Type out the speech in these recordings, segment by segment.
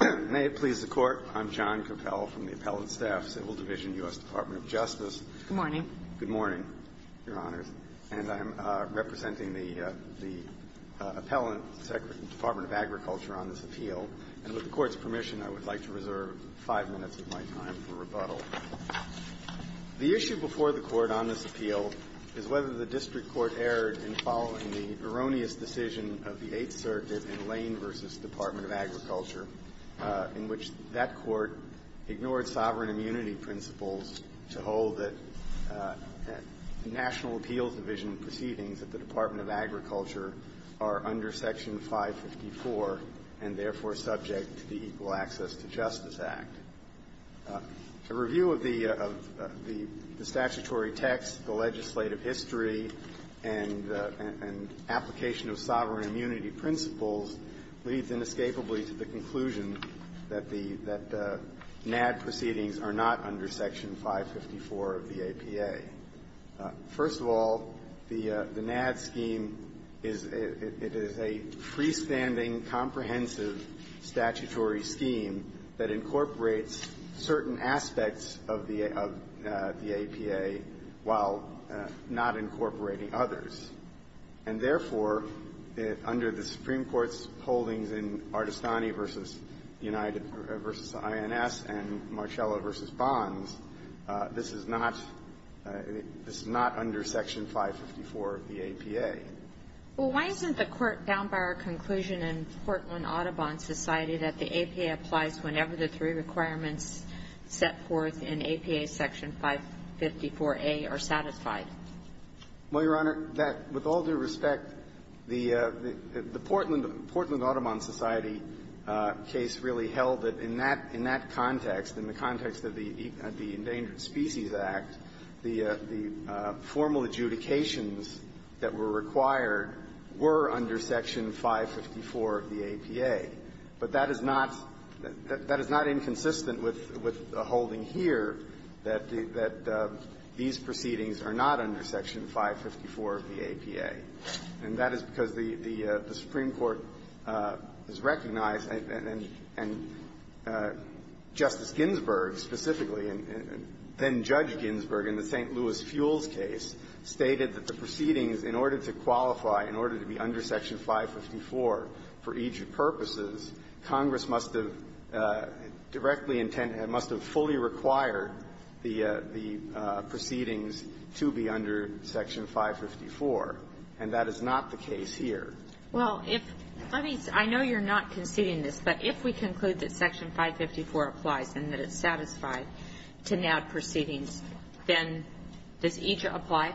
May it please the Court, I'm John Coppell from the Appellant Staff Civil Division, U.S. Department of Justice. Good morning. Good morning, Your Honors. And I am representing the Appellant, Secretary of the Department of Agriculture, on this appeal. And with the Court's permission, I would like to reserve five minutes of my time for rebuttal. The issue before the Court on this appeal is whether the District Court erred in following the erroneous decision of the Eighth Circuit in Lane v. Department of Agriculture, in which that Court ignored sovereign immunity principles to hold that the National Appeals Division proceedings at the Department of Agriculture are under Section 554 and therefore subject to the Equal Access to Justice Act. A review of the statutory text, the legislative history, and application of sovereign immunity principles leads inescapably to the conclusion that the NADD proceedings are not under Section 554 of the APA. First of all, the NADD scheme is a freestanding, comprehensive statutory scheme that incorporates certain aspects of the APA while not incorporating others. And therefore, under the Supreme Court's holdings in Artestani v. United v. INS and Marcello v. Bonds, this is not under Section 554 of the APA. Well, why isn't the Court bound by our conclusion in Portland Audubon Society that the APA applies whenever the three requirements set forth in APA Section 554A are satisfied? Well, Your Honor, that, with all due respect, the Portland Audubon Society case really held that in that context, in the context of the Endangered Species Act, the formal adjudications that were required were under Section 554 of the APA. But that is not inconsistent with the holding here that these proceedings are not under Section 554 of the APA. And that is because the Supreme Court has recognized and Justice Ginsburg specifically, and then-Judge Ginsburg in the St. Louis Fuels case, stated that the proceedings, in order to qualify, in order to be under Section 554 for Egypt purposes, Congress must have directly intended, must have fully required the proceedings to be under Section 554. And that is not the case here. Well, if we conclude that Section 554 applies and that it's satisfied to NAB proceedings, then does Egypt apply?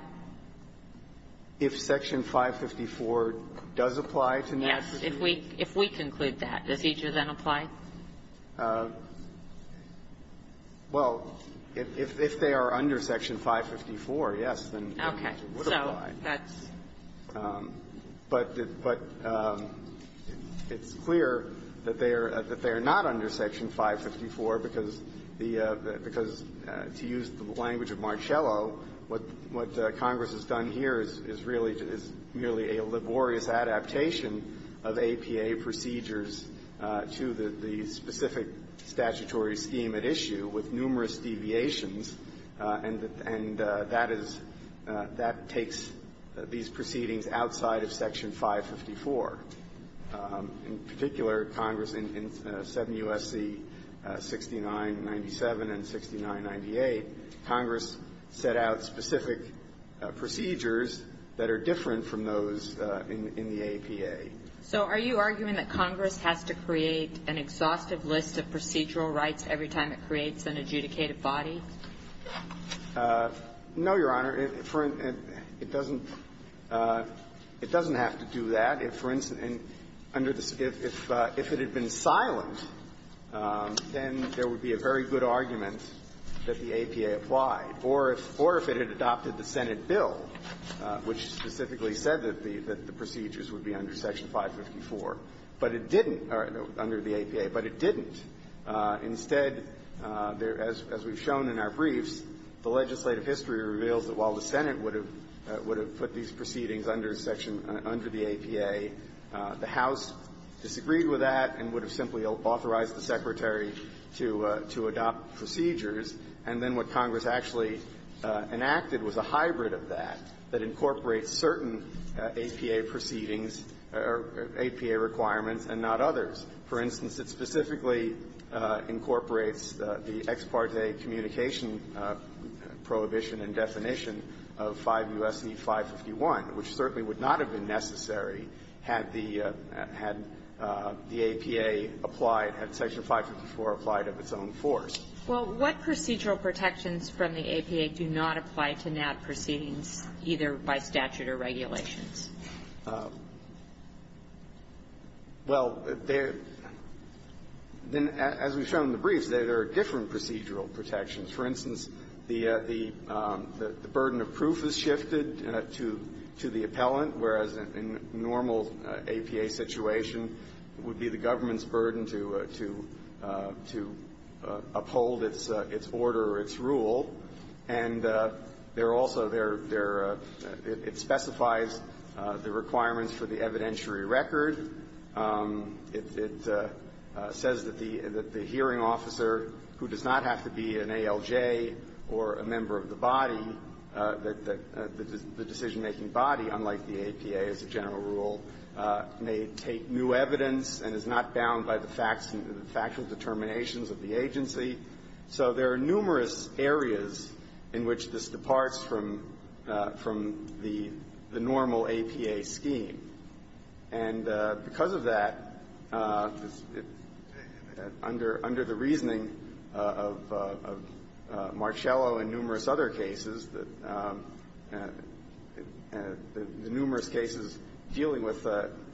If Section 554 does apply to NAB proceedings? Yes. If we conclude that, does Egypt then apply? Well, if they are under Section 554, yes, then Egypt would apply. Okay. So that's --. But it's clear that they are not under Section 554 because the -- because to use the language of Marcello, what Congress has done here is really a laborious adaptation of APA procedures to the specific statutory scheme at issue with numerous deviations, and that is -- that takes these proceedings outside of Section 554. In particular, Congress in 7 U.S.C. 6997 and 6998, Congress set out specific procedures that are different from those in the APA. So are you arguing that Congress has to create an exhaustive list of procedural rights every time it creates an adjudicated body? No, Your Honor. It doesn't have to do that. If, for instance, under the -- if it had been silent, then there would be a very good argument that the APA applied. Or if it had adopted the Senate bill, which specifically said that the procedures would be under Section 554, but it didn't, under the APA, but it didn't. Instead, as we've shown in our briefs, the legislative history reveals that while the Senate would have put these proceedings under Section -- under the APA, the House disagreed with that and would have simply authorized the Secretary to adopt procedures, and then what Congress actually enacted was a hybrid of that that incorporates certain APA proceedings or APA requirements and not others. For instance, it specifically incorporates the ex parte communication prohibition and definition of 5 U.S.C. 551, which certainly would not have been necessary had the APA applied, had Section 554 applied of its own force. Well, what procedural protections from the APA do not apply to NAB proceedings, either by statute or regulations? Well, there -- then, as we've shown in the briefs, there are different procedural protections. For instance, the burden of proof is shifted to the appellant, whereas in a normal APA situation, it would be the government's burden to uphold its order or its rule. And there are also their -- it specifies the requirements for the evidentiary record. It says that the hearing officer who does not have to be an ALJ or a member of the body, the decision-making body, unlike the APA as a general rule, may take new evidence and is not bound by the facts and factual determinations of the agency. So there are numerous areas in which this departs from the normal APA scheme. And because of that, under the reasoning of Marcello and numerous other cases, the numerous cases dealing with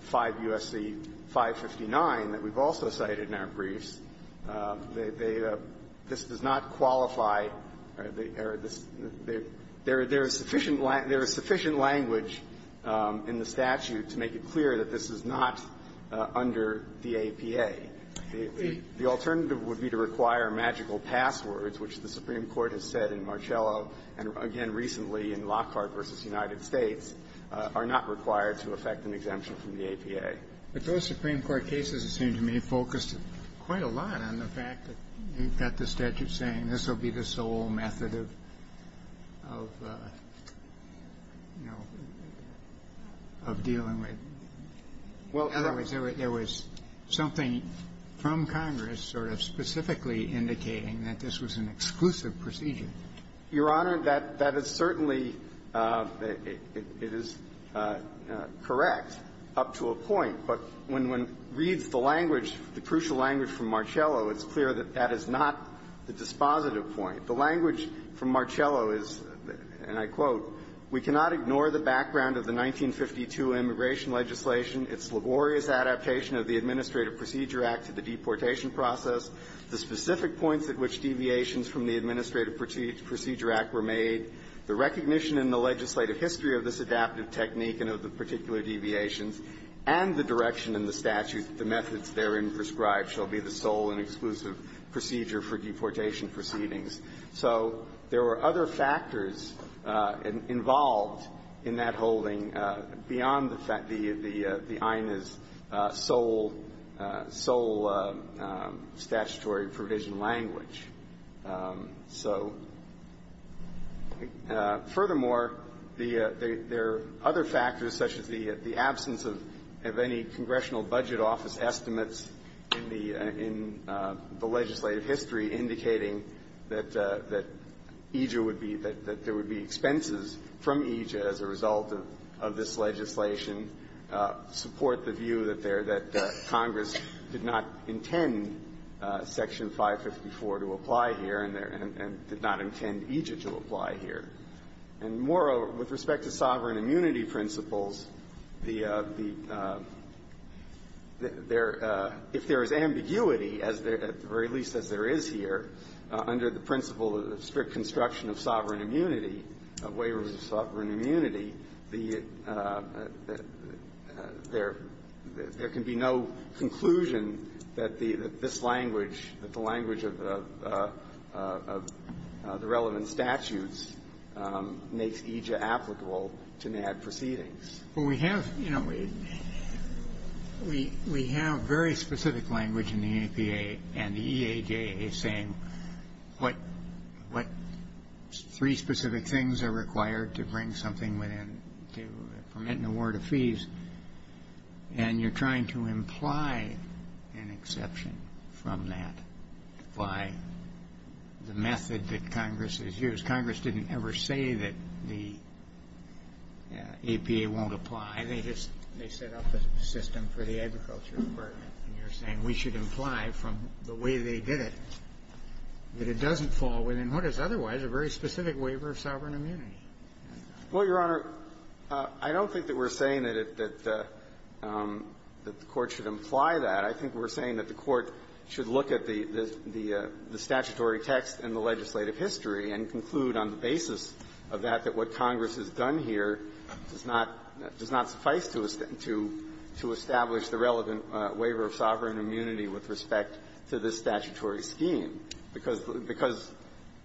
5 U.S.C. 559 that we've also cited in our briefs, they -- this does not qualify. There is sufficient language in the statute to make it clear that this is not under the APA. The alternative would be to require magical passwords, which the Supreme Court has said in Marcello and, again, recently in Lockhart v. United States, are not required to effect an exemption from the APA. But those Supreme Court cases, it seems to me, focused quite a lot on the fact that you've got the statute saying this will be the sole method of, you know, of dealing with. Well, in other words, there was something from Congress sort of specifically indicating that this was an exclusive procedure. Your Honor, that is certainly the --- it is correct up to a point. But when one reads the language, the crucial language from Marcello, it's clear that that is not the dispositive point. The language from Marcello is, and I quote, We cannot ignore the background of the 1952 immigration legislation, its laborious adaptation of the Administrative Procedure Act to the deportation process, the specific points at which deviations from the Administrative Procedure Act were made, the recognition in the legislative history of this adaptive technique and of the particular deviations, and the direction in the statute that the methods therein prescribed shall be the sole and exclusive procedure for deportation proceedings. So there were other factors involved in that holding beyond the INA's sole statutory provision language. So furthermore, there are other factors, such as the absence of any Congressional budget office estimates in the legislative history indicating that EJA would be -- that there would be expenses from EJA as a result of this legislation, support the view that Congress did not intend Section 554 to apply here and did not intend EJA to apply here. And moreover, with respect to sovereign immunity principles, the -- if there is ambiguity, or at least as there is here, under the principle of strict construction of sovereign immunity, waivers of sovereign immunity, there can be no conclusion that this language, that the language of the relevant statutes makes EJA applicable to NAD proceedings. Well, we have, you know, we have very specific language in the APA and the EAJA saying what three specific things are required to bring something within to permit an award of fees, and you're trying to imply an exception from that by the method that Congress has used. Congress didn't ever say that the APA won't apply. They just set up a system for the Agriculture Department, and you're saying we should imply from the way they did it that it doesn't fall within what is otherwise a very specific waiver of sovereign immunity. Well, Your Honor, I don't think that we're saying that it the Court should imply that. I think we're saying that the Court should look at the statutory text in the legislative history and conclude on the basis of that that what Congress has done here does not suffice to establish the relevant waiver of sovereign immunity with respect to this statutory scheme, because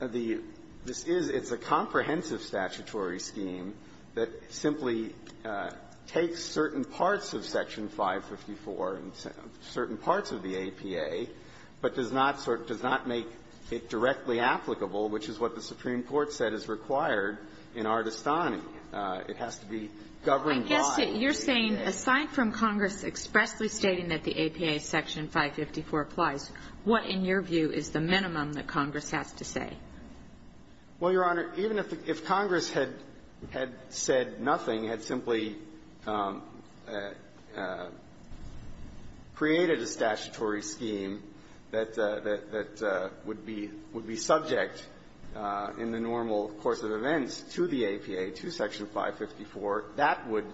the this is it's a comprehensive statute. It's a statutory scheme that simply takes certain parts of Section 554 and certain parts of the APA, but does not sort of does not make it directly applicable, which is what the Supreme Court said is required in Ardestani. It has to be governed by the APA. I guess that you're saying, aside from Congress expressly stating that the APA Section 554 applies, what, in your view, is the minimum that Congress has to say? Well, Your Honor, even if Congress had said nothing, had simply created a statutory scheme that would be subject in the normal course of events to the APA, to Section 554, that would,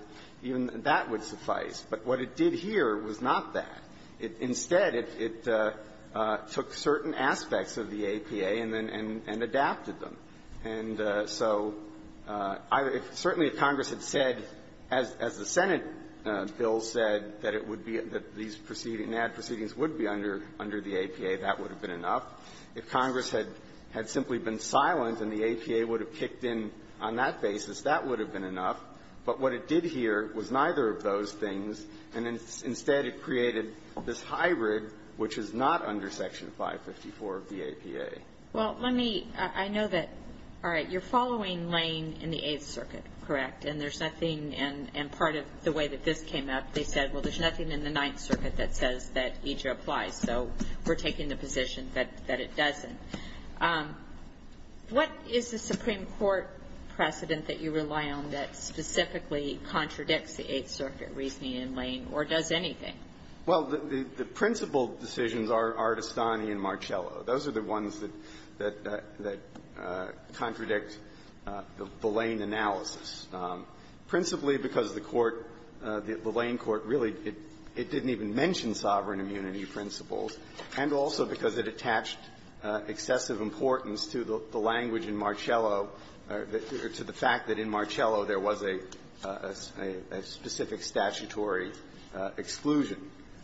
even that would suffice. But what it did here was not that. Instead, it took certain aspects of the APA and then adapted them. And so certainly if Congress had said, as the Senate bill said, that it would be that these proceeding, NAD proceedings would be under the APA, that would have been enough. If Congress had simply been silent and the APA would have kicked in on that basis, that would have been enough. But what it did here was neither of those things. And instead, it created this hybrid which is not under Section 554 of the APA. Well, let me – I know that – all right. You're following Lane in the Eighth Circuit, correct? And there's nothing in – and part of the way that this came up, they said, well, there's nothing in the Ninth Circuit that says that EJRA applies, so we're taking the position that it doesn't. What is the Supreme Court precedent that you rely on that specifically contradicts the Eighth Circuit reasoning in Lane, or does anything? Well, the principal decisions are Artestani and Marcello. Those are the ones that contradict the Lane analysis, principally because the court – the Lane court really – it didn't even mention sovereign immunity principles, and also because it attached excessive importance to the language in Marcello or to the fact that in Marcello there was a specific statutory exclusion.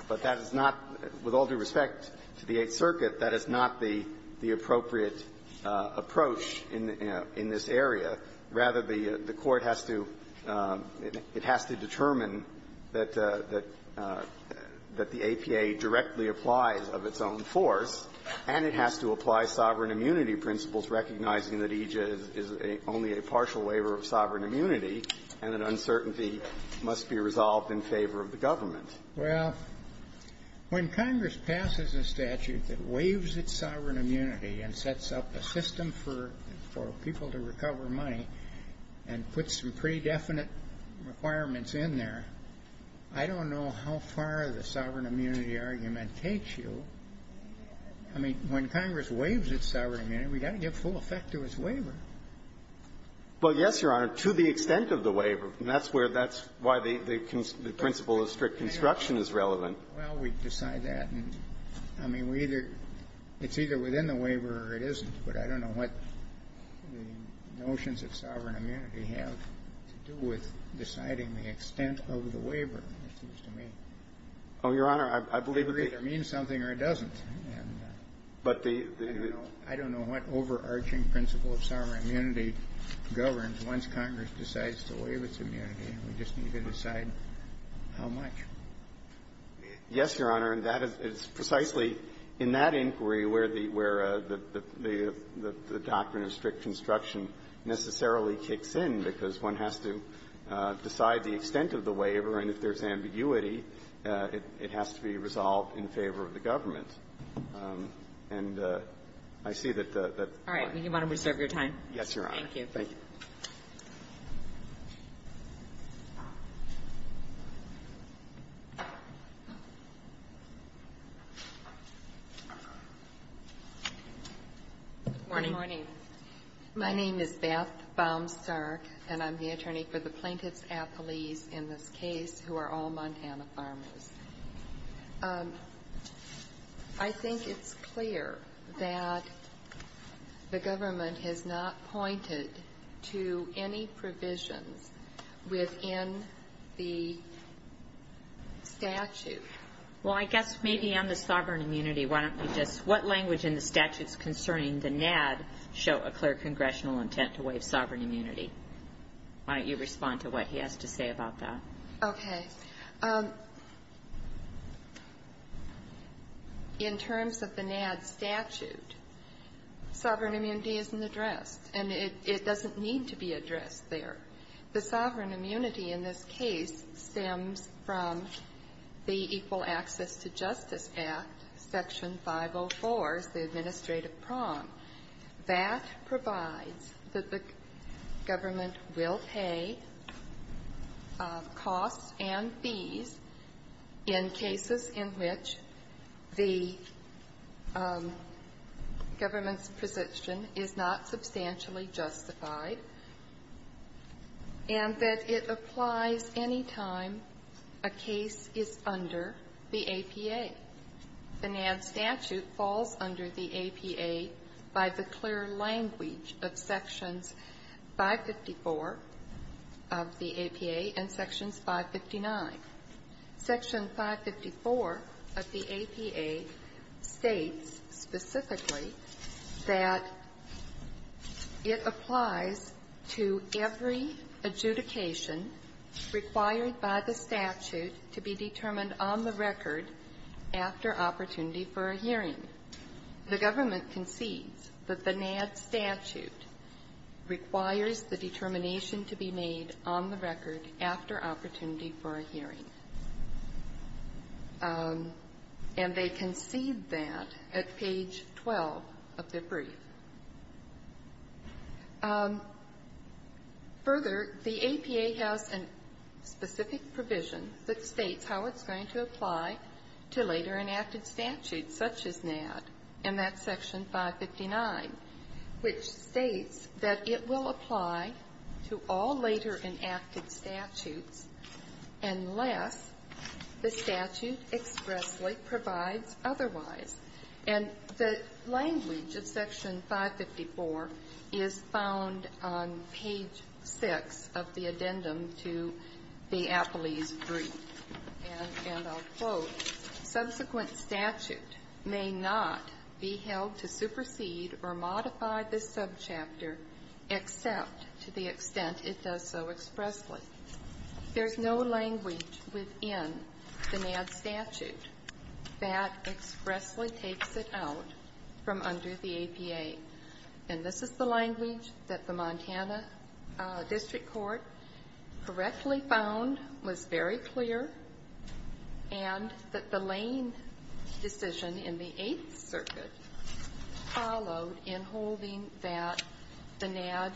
But that is not – with all due respect to the Eighth Circuit, that is not the appropriate approach in this area. Rather, the court has to – it has to determine that the APA directly applies of its own force, and it has to apply sovereign immunity principles, recognizing that EJRA is only a partial waiver of sovereign immunity and that uncertainty must be resolved in favor of the government. Well, when Congress passes a statute that waives its sovereign immunity and sets up a system for people to recover money and puts some pre-definite requirements in there, I don't know how far the sovereign immunity argument takes you. I mean, when Congress waives its sovereign immunity, we've got to give full effect to its waiver. Well, yes, Your Honor, to the extent of the waiver. And that's where – that's why the principle of strict construction is relevant. Well, we decide that. And, I mean, we either – it's either within the waiver or it isn't. But I don't know what the notions of sovereign immunity have to do with deciding the extent of the waiver, it seems to me. Oh, Your Honor, I believe it's the same. It either means something or it doesn't. And I don't know what overarching principle of sovereign immunity governs. Once Congress decides to waive its immunity, we just need to decide how much. Yes, Your Honor. And that is precisely in that inquiry where the – where the doctrine of strict construction necessarily kicks in, because one has to decide the extent of the waiver. And if there's ambiguity, it has to be resolved in favor of the government. And I see that the point of the waiver is that it's not a matter of the waiver. Good morning. My name is Beth Baumstark, and I'm the attorney for the plaintiffs' apologies in this case who are all Montana farmers. I think it's clear that the government has not pointed to any provisions within the statute. Well, I guess maybe on the sovereign immunity, why don't you just – what language in the statutes concerning the NADD show a clear congressional intent to waive sovereign immunity? Why don't you respond to what he has to say about that? Okay. In terms of the NADD statute, sovereign immunity isn't addressed, and it doesn't need to be addressed there. The sovereign immunity in this case stems from the Equal Access to Justice Act, Section 504, the administrative prong. That provides that the government will pay costs and fees in cases in which the government's position is not substantially justified, and that it applies any time a case is under the APA. The NADD statute falls under the APA by the clear language of Sections 554 of the APA and Sections 559. Section 554 of the APA states specifically that it applies to every adjudication required by the statute to be determined on the record after opportunity for a hearing. The government concedes that the NADD statute requires the determination to be made on the record after opportunity for a hearing, and they concede that at page 12 of their brief. Further, the APA has a specific provision that states how it's going to apply to later enacted statutes such as NADD, and that's Section 559, which states that it will apply to all later enacted statutes unless the statute expressly provides otherwise. And the language of Section 554 is found on page 6 of the addendum to the APALE's brief, and I'll quote, subsequent statute may not be held to supersede or modify this subchapter except to the extent it does so expressly. There's no language within the NADD statute that expressly takes it out from under the APA. And this is the language that the Montana District Court correctly found was very clear and that the Lane decision in the Eighth Circuit followed in holding that the NADD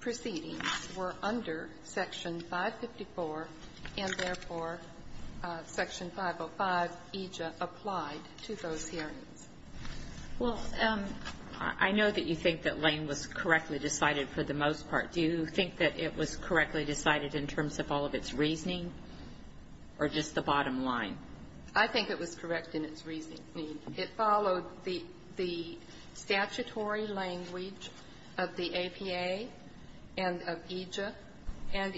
proceedings were under Section 554 and, therefore, Section 505 EJA applied to those hearings. Well, I know that you think that Lane was correctly decided for the most part. Do you think that it was correctly decided in terms of all of its reasoning or just the bottom line? I think it was correct in its reasoning. It followed the statutory language of the APA and of EJA, and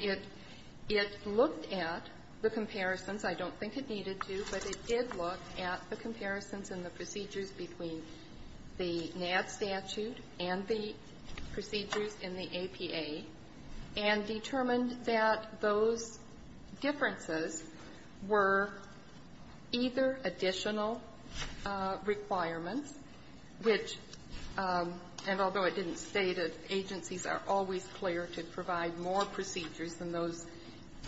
it looked at the comparisons – I don't think it needed to, but it did look at the comparisons and the procedures between the NADD statute and the procedures in the APA and determined that those differences were either additional requirements, which, and although it didn't state it, agencies are always clear to provide more procedures than those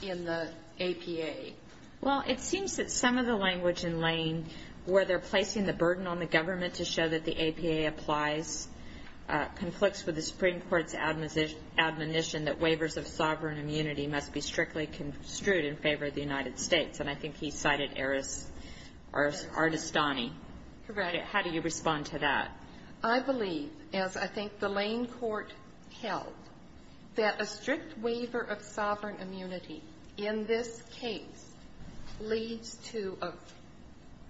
in the APA. Well, it seems that some of the language in Lane, where they're placing the burden on the government to show that the APA applies, conflicts with the Supreme Court's admonition that waivers of sovereign immunity must be strictly construed in favor of the United States. And I think he cited Ardestani. Correct. How do you respond to that? I believe, as I think the Lane court held, that a strict waiver of sovereign immunity in this case leads to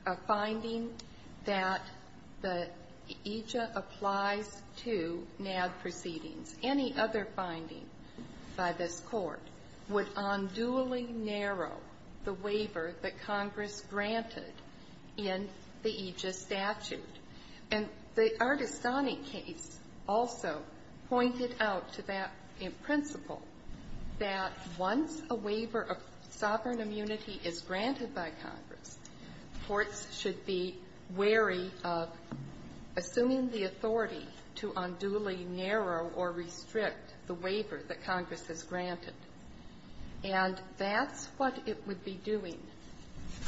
a finding that the EJA applies to NADD proceedings. Any other finding by this Court would unduly narrow the waiver that Congress granted in the EJA statute, and the Ardestani case also pointed out to that principle that once a waiver of sovereign immunity is granted by Congress, courts should be wary of assuming the authority to unduly narrow or restrict the waiver that Congress has granted. And that's what it would be doing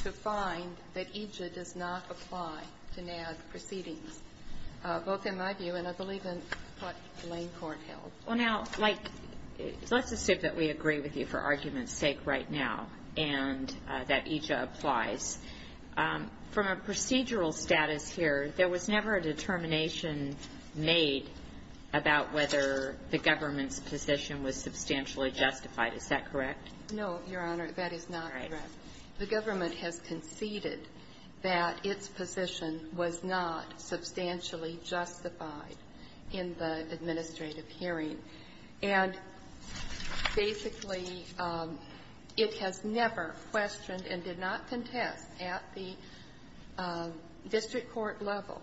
to find that EJA does not apply to NADD proceedings, both in my view and I believe in what Lane court held. Well, now, like, let's assume that we agree with you for argument's sake right now and that EJA applies, from a procedural status here, there was never a determination made about whether the government's position was substantially justified. Is that correct? No, Your Honor, that is not correct. The government has conceded that its position was not substantially justified in the administrative hearing. And basically, it has never questioned and did not contest at the district court level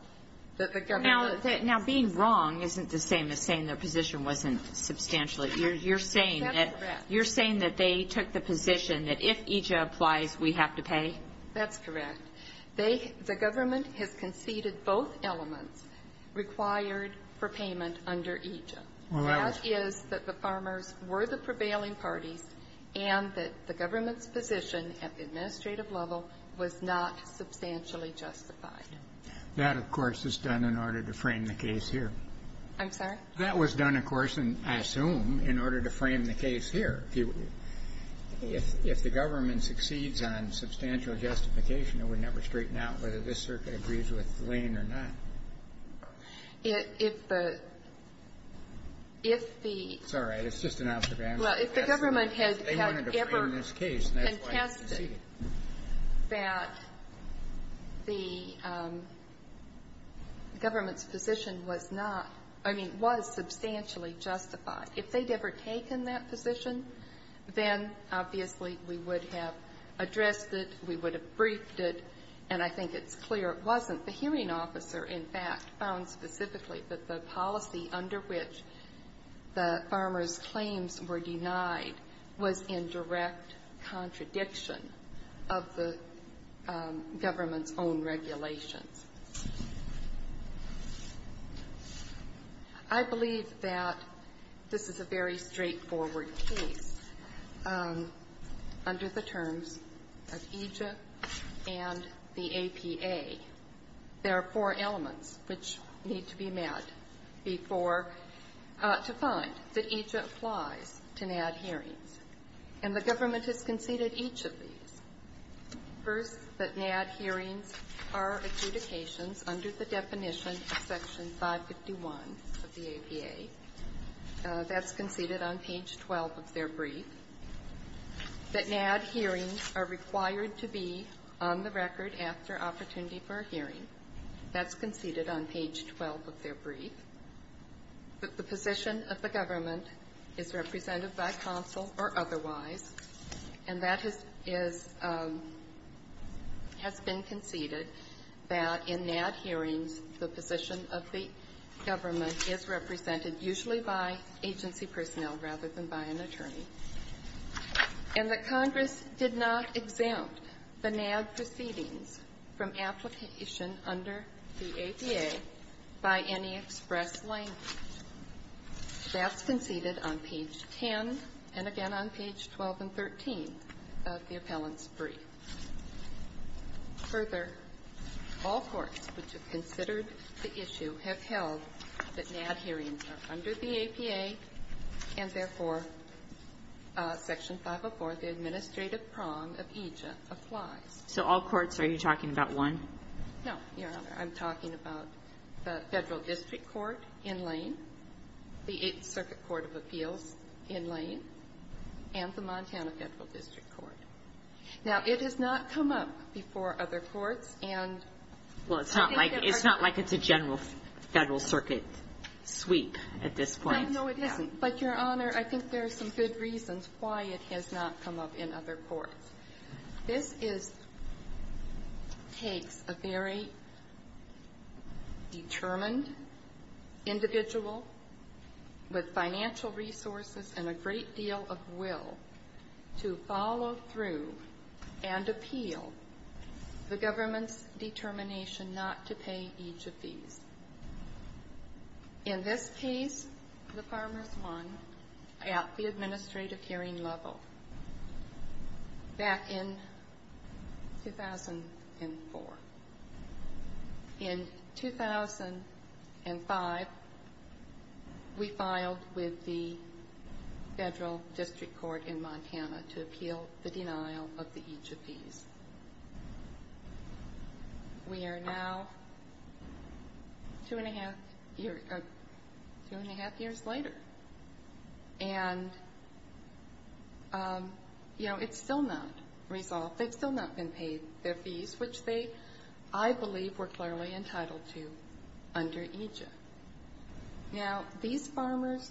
that the government was going to do that. Now, being wrong isn't the same as saying their position wasn't substantially. You're saying that they took the position that if EJA applies, we have to pay? That's correct. They the government has conceded both elements required for payment under EJA. That is that the farmers were the prevailing parties and that the government's position at the administrative level was not substantially justified. That, of course, is done in order to frame the case here. I'm sorry? That was done, of course, and I assume, in order to frame the case here. If the government succeeds on substantial justification, it would never straighten out whether this circuit agrees with Lane or not. If the, if the It's all right. It's just an observation. Well, if the government had ever contested that the government's position was not, I mean, was substantially justified, if they'd ever taken that position, then, obviously, we would have addressed it, we would have briefed it, and I think it's clear it wasn't. The hearing officer, in fact, found specifically that the policy under which the farmers' claims were denied was in direct contradiction of the government's own regulations. I believe that this is a very straightforward case under the terms of EJA and the APA. There are four elements which need to be met before, to find that EJA applies to NAD hearings, and the government has conceded each of these. First, that NAD hearings are adjudications under the definition of Section 551 of the APA. That's conceded on page 12 of their brief. That NAD hearings are required to be on the record after opportunity for a hearing. That's conceded on page 12 of their brief. That the position of the government is represented by counsel or otherwise, and that has been conceded that in NAD hearings, the position of the government is represented usually by agency personnel rather than by an attorney. And that Congress did not exempt the NAD proceedings from application under the APA by any express language. That's conceded on page 10, and again on page 12 and 13 of the appellant's brief. Further, all courts which have considered the issue have held that NAD hearings are under the APA, and therefore, Section 504, the administrative prong of EJA, applies. Kagan. So all courts, are you talking about one? No, Your Honor. I'm talking about the Federal District Court in Lane, the Eighth Circuit Court of Appeals in Lane, and the Montana Federal District Court. Now, it has not come up before other courts, and I think that they're going to do it. Well, it's not like it's a general Federal Circuit sweep at this point. No, no, it isn't. But, Your Honor, I think there are some good reasons why it has not come up in other courts. This takes a very determined individual with financial resources and a great deal of will to follow through and appeal the government's determination not to pay each of these. In this case, the farmers won at the administrative hearing level. Back in 2004. In 2005, we filed with the Federal District Court in Montana to appeal the denial of the each of these. We are now two and a half years later. And, you know, it's still not resolved. They've still not been paid their fees, which they, I believe, were clearly entitled to under EJA. Now, these farmers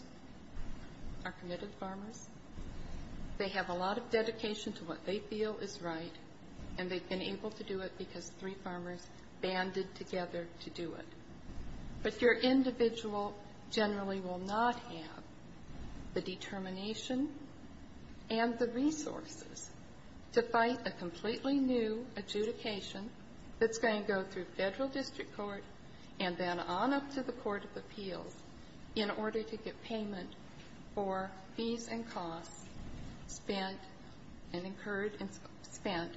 are committed farmers. They have a lot of dedication to what they feel is right, and they've been able to do it because three farmers banded together to do it. But your individual generally will not have the determination and the resources to fight a completely new adjudication that's going to go through Federal District Court and then on up to the court of appeals in order to get payment for fees and costs spent and incurred and spent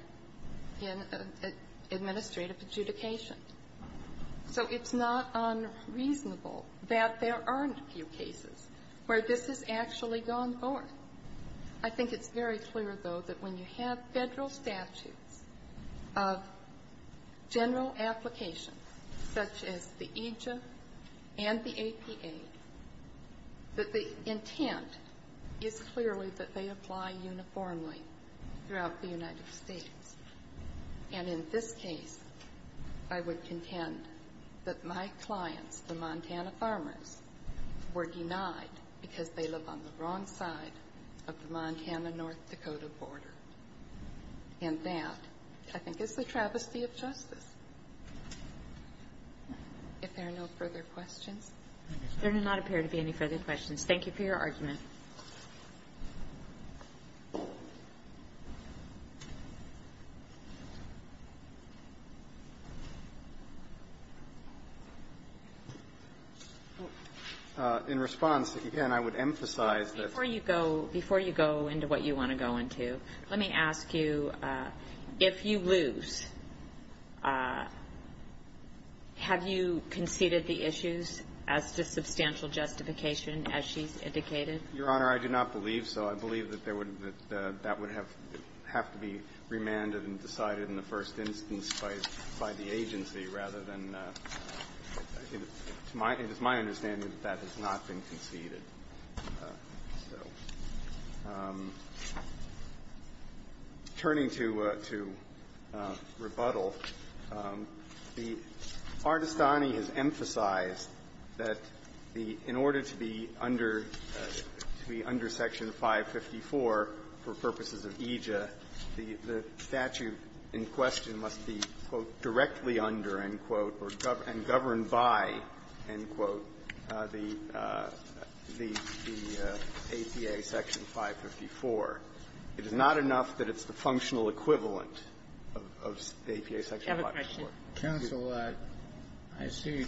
in administrative adjudication. So it's not unreasonable that there aren't a few cases where this has actually gone forth. I think it's very clear, though, that when you have Federal statutes of general application, such as the EJA and the APA, that the intent is clearly that they apply uniformly throughout the United States. And in this case, I would contend that my clients, the Montana farmers, were denied because they live on the wrong side of the Montana-North Dakota border. And that, I think, is the travesty of justice. If there are no further questions. MS. GOTTLIEB There do not appear to be any further questions. Thank you for your argument. MR. GARRETT In response, again, I would emphasize that MS. GOTTLIEB Let me ask you, if you lose, have you conceded the issues as to substantial justification as she's indicated? MR. GARRETT Your Honor, I do not believe so. I believe that there would be the – that would have to be remanded and decided in the first instance by the agency rather than – it is my understanding that that has not been conceded. So turning to rebuttal, the Artestani has emphasized that the – in order to be under – to be under Section 554 for purposes of EJA, the statute in question must be, quote, directly under, end quote, and governed by, end quote, the – the APA Section 554. It is not enough that it's the functional equivalent of the APA Section 554. GOTTLIEB I have a question. MR. GARRETT Counsel, I see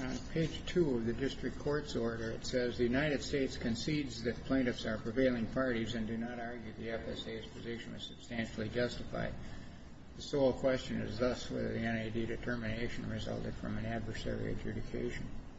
on page 2 of the district court's order, it says, The United States concedes that plaintiffs are prevailing parties and do not argue the FSA's position is substantially justified. The sole question is thus whether the NAD determination resulted from an adversary GARRETT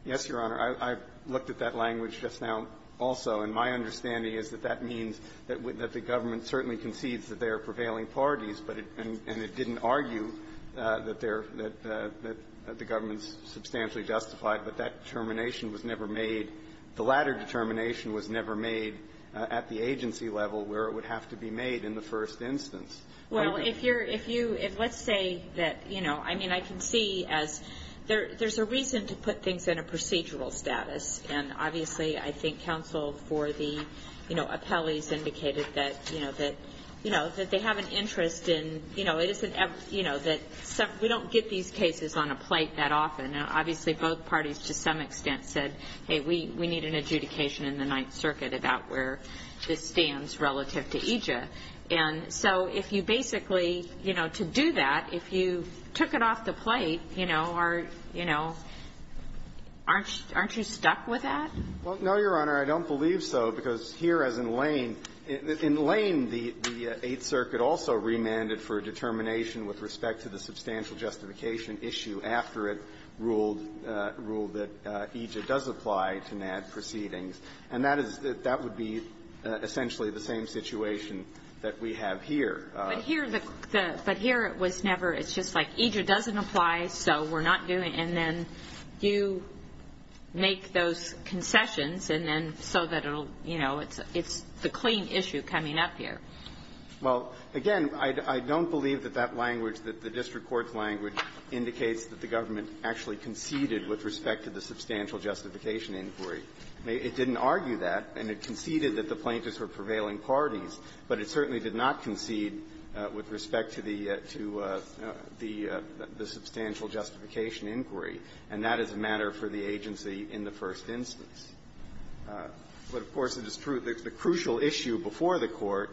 Yes, Your Honor. I've looked at that language just now also, and my understanding is that that means that the government certainly concedes that they are prevailing parties, but it – and it didn't argue that they're – that the government's substantially justified, but that determination was never made. The latter determination was never made at the agency level where it would have to be made in the first instance. MS. GOTTLIEB Well, if you're – if you – if let's say that, you know, I mean, I can see as – there's a reason to put things in a procedural status, and obviously, I think counsel for the, you know, appellees indicated that, you know, that – you know, that they have an interest in, you know, it isn't – you know, that some – we don't get these cases on a plate that often, and obviously, both parties to some extent said, hey, we need an adjudication in the Ninth Circuit about where this basically, you know, to do that, if you took it off the plate, you know, or, you know, aren't – aren't you stuck with that? MR. GOLDSTEIN Well, no, Your Honor. I don't believe so, because here, as in Lane – in Lane, the – the Eighth Circuit also remanded for a determination with respect to the substantial justification issue after it ruled – ruled that EJA does apply to NAD proceedings, and that is – that would be essentially the same situation that we have here. KAGAN But here, the – but here, it was never – it's just like EJA doesn't apply, so we're not doing – and then you make those concessions, and then so that it'll – you know, it's – it's the clean issue coming up here. MR. GOLDSTEIN Well, again, I don't believe that that language, that the district court's language, indicates that the government actually conceded with respect to the substantial justification inquiry. It didn't argue that, and it conceded that the plaintiffs were prevailing parties, but it certainly did not concede with respect to the – to the substantial justification inquiry, and that is a matter for the agency in the first instance. But, of course, it is true that the crucial issue before the Court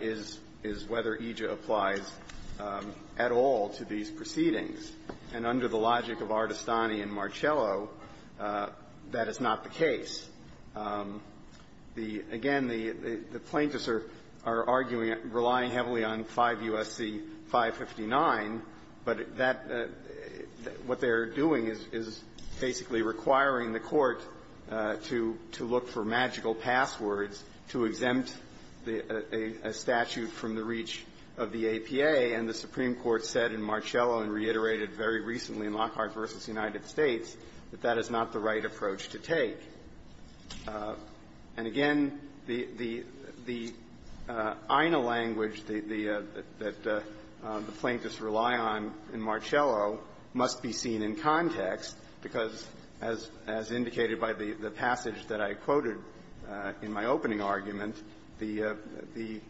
is – is whether EJA applies at all to these proceedings, and under the logic of Artestani and Marcello, that is not the case. The plaintiffs are – are arguing – relying heavily on 5 U.S.C. 559, but that – what they're doing is – is basically requiring the Court to – to look for magical passwords to exempt the – a statute from the reach of the APA, and the Supreme Court said in Marcello and reiterated very recently in Lockhart v. United States that that is not the right approach to take. And, again, the – the – the INA language, the – the – that the plaintiffs rely on in Marcello must be seen in context because, as – as indicated by the – the passage that I quoted in my opening argument, the – the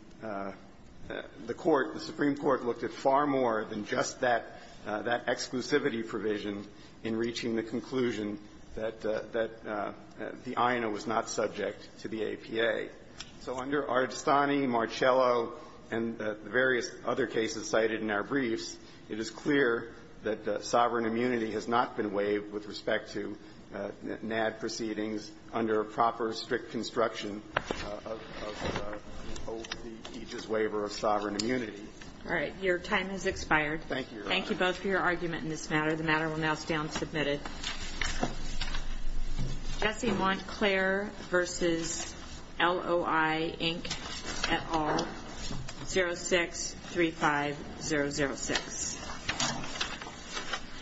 – the Court, the Supreme Court, looked at far more than just that – that exclusivity provision in reaching the conclusion that – that the INA was not subject to the APA. So under Artestani, Marcello, and the various other cases cited in our briefs, it is clear that sovereign immunity has not been waived with respect to NAD proceedings under proper, strict construction of the EJA's waiver of sovereign immunity. All right. Your time has expired. Thank you, Your Honor. Thank you both for your argument in this matter. The matter will now stand submitted. Jesse Montclair v. LOI, Inc., et al., 06-35006.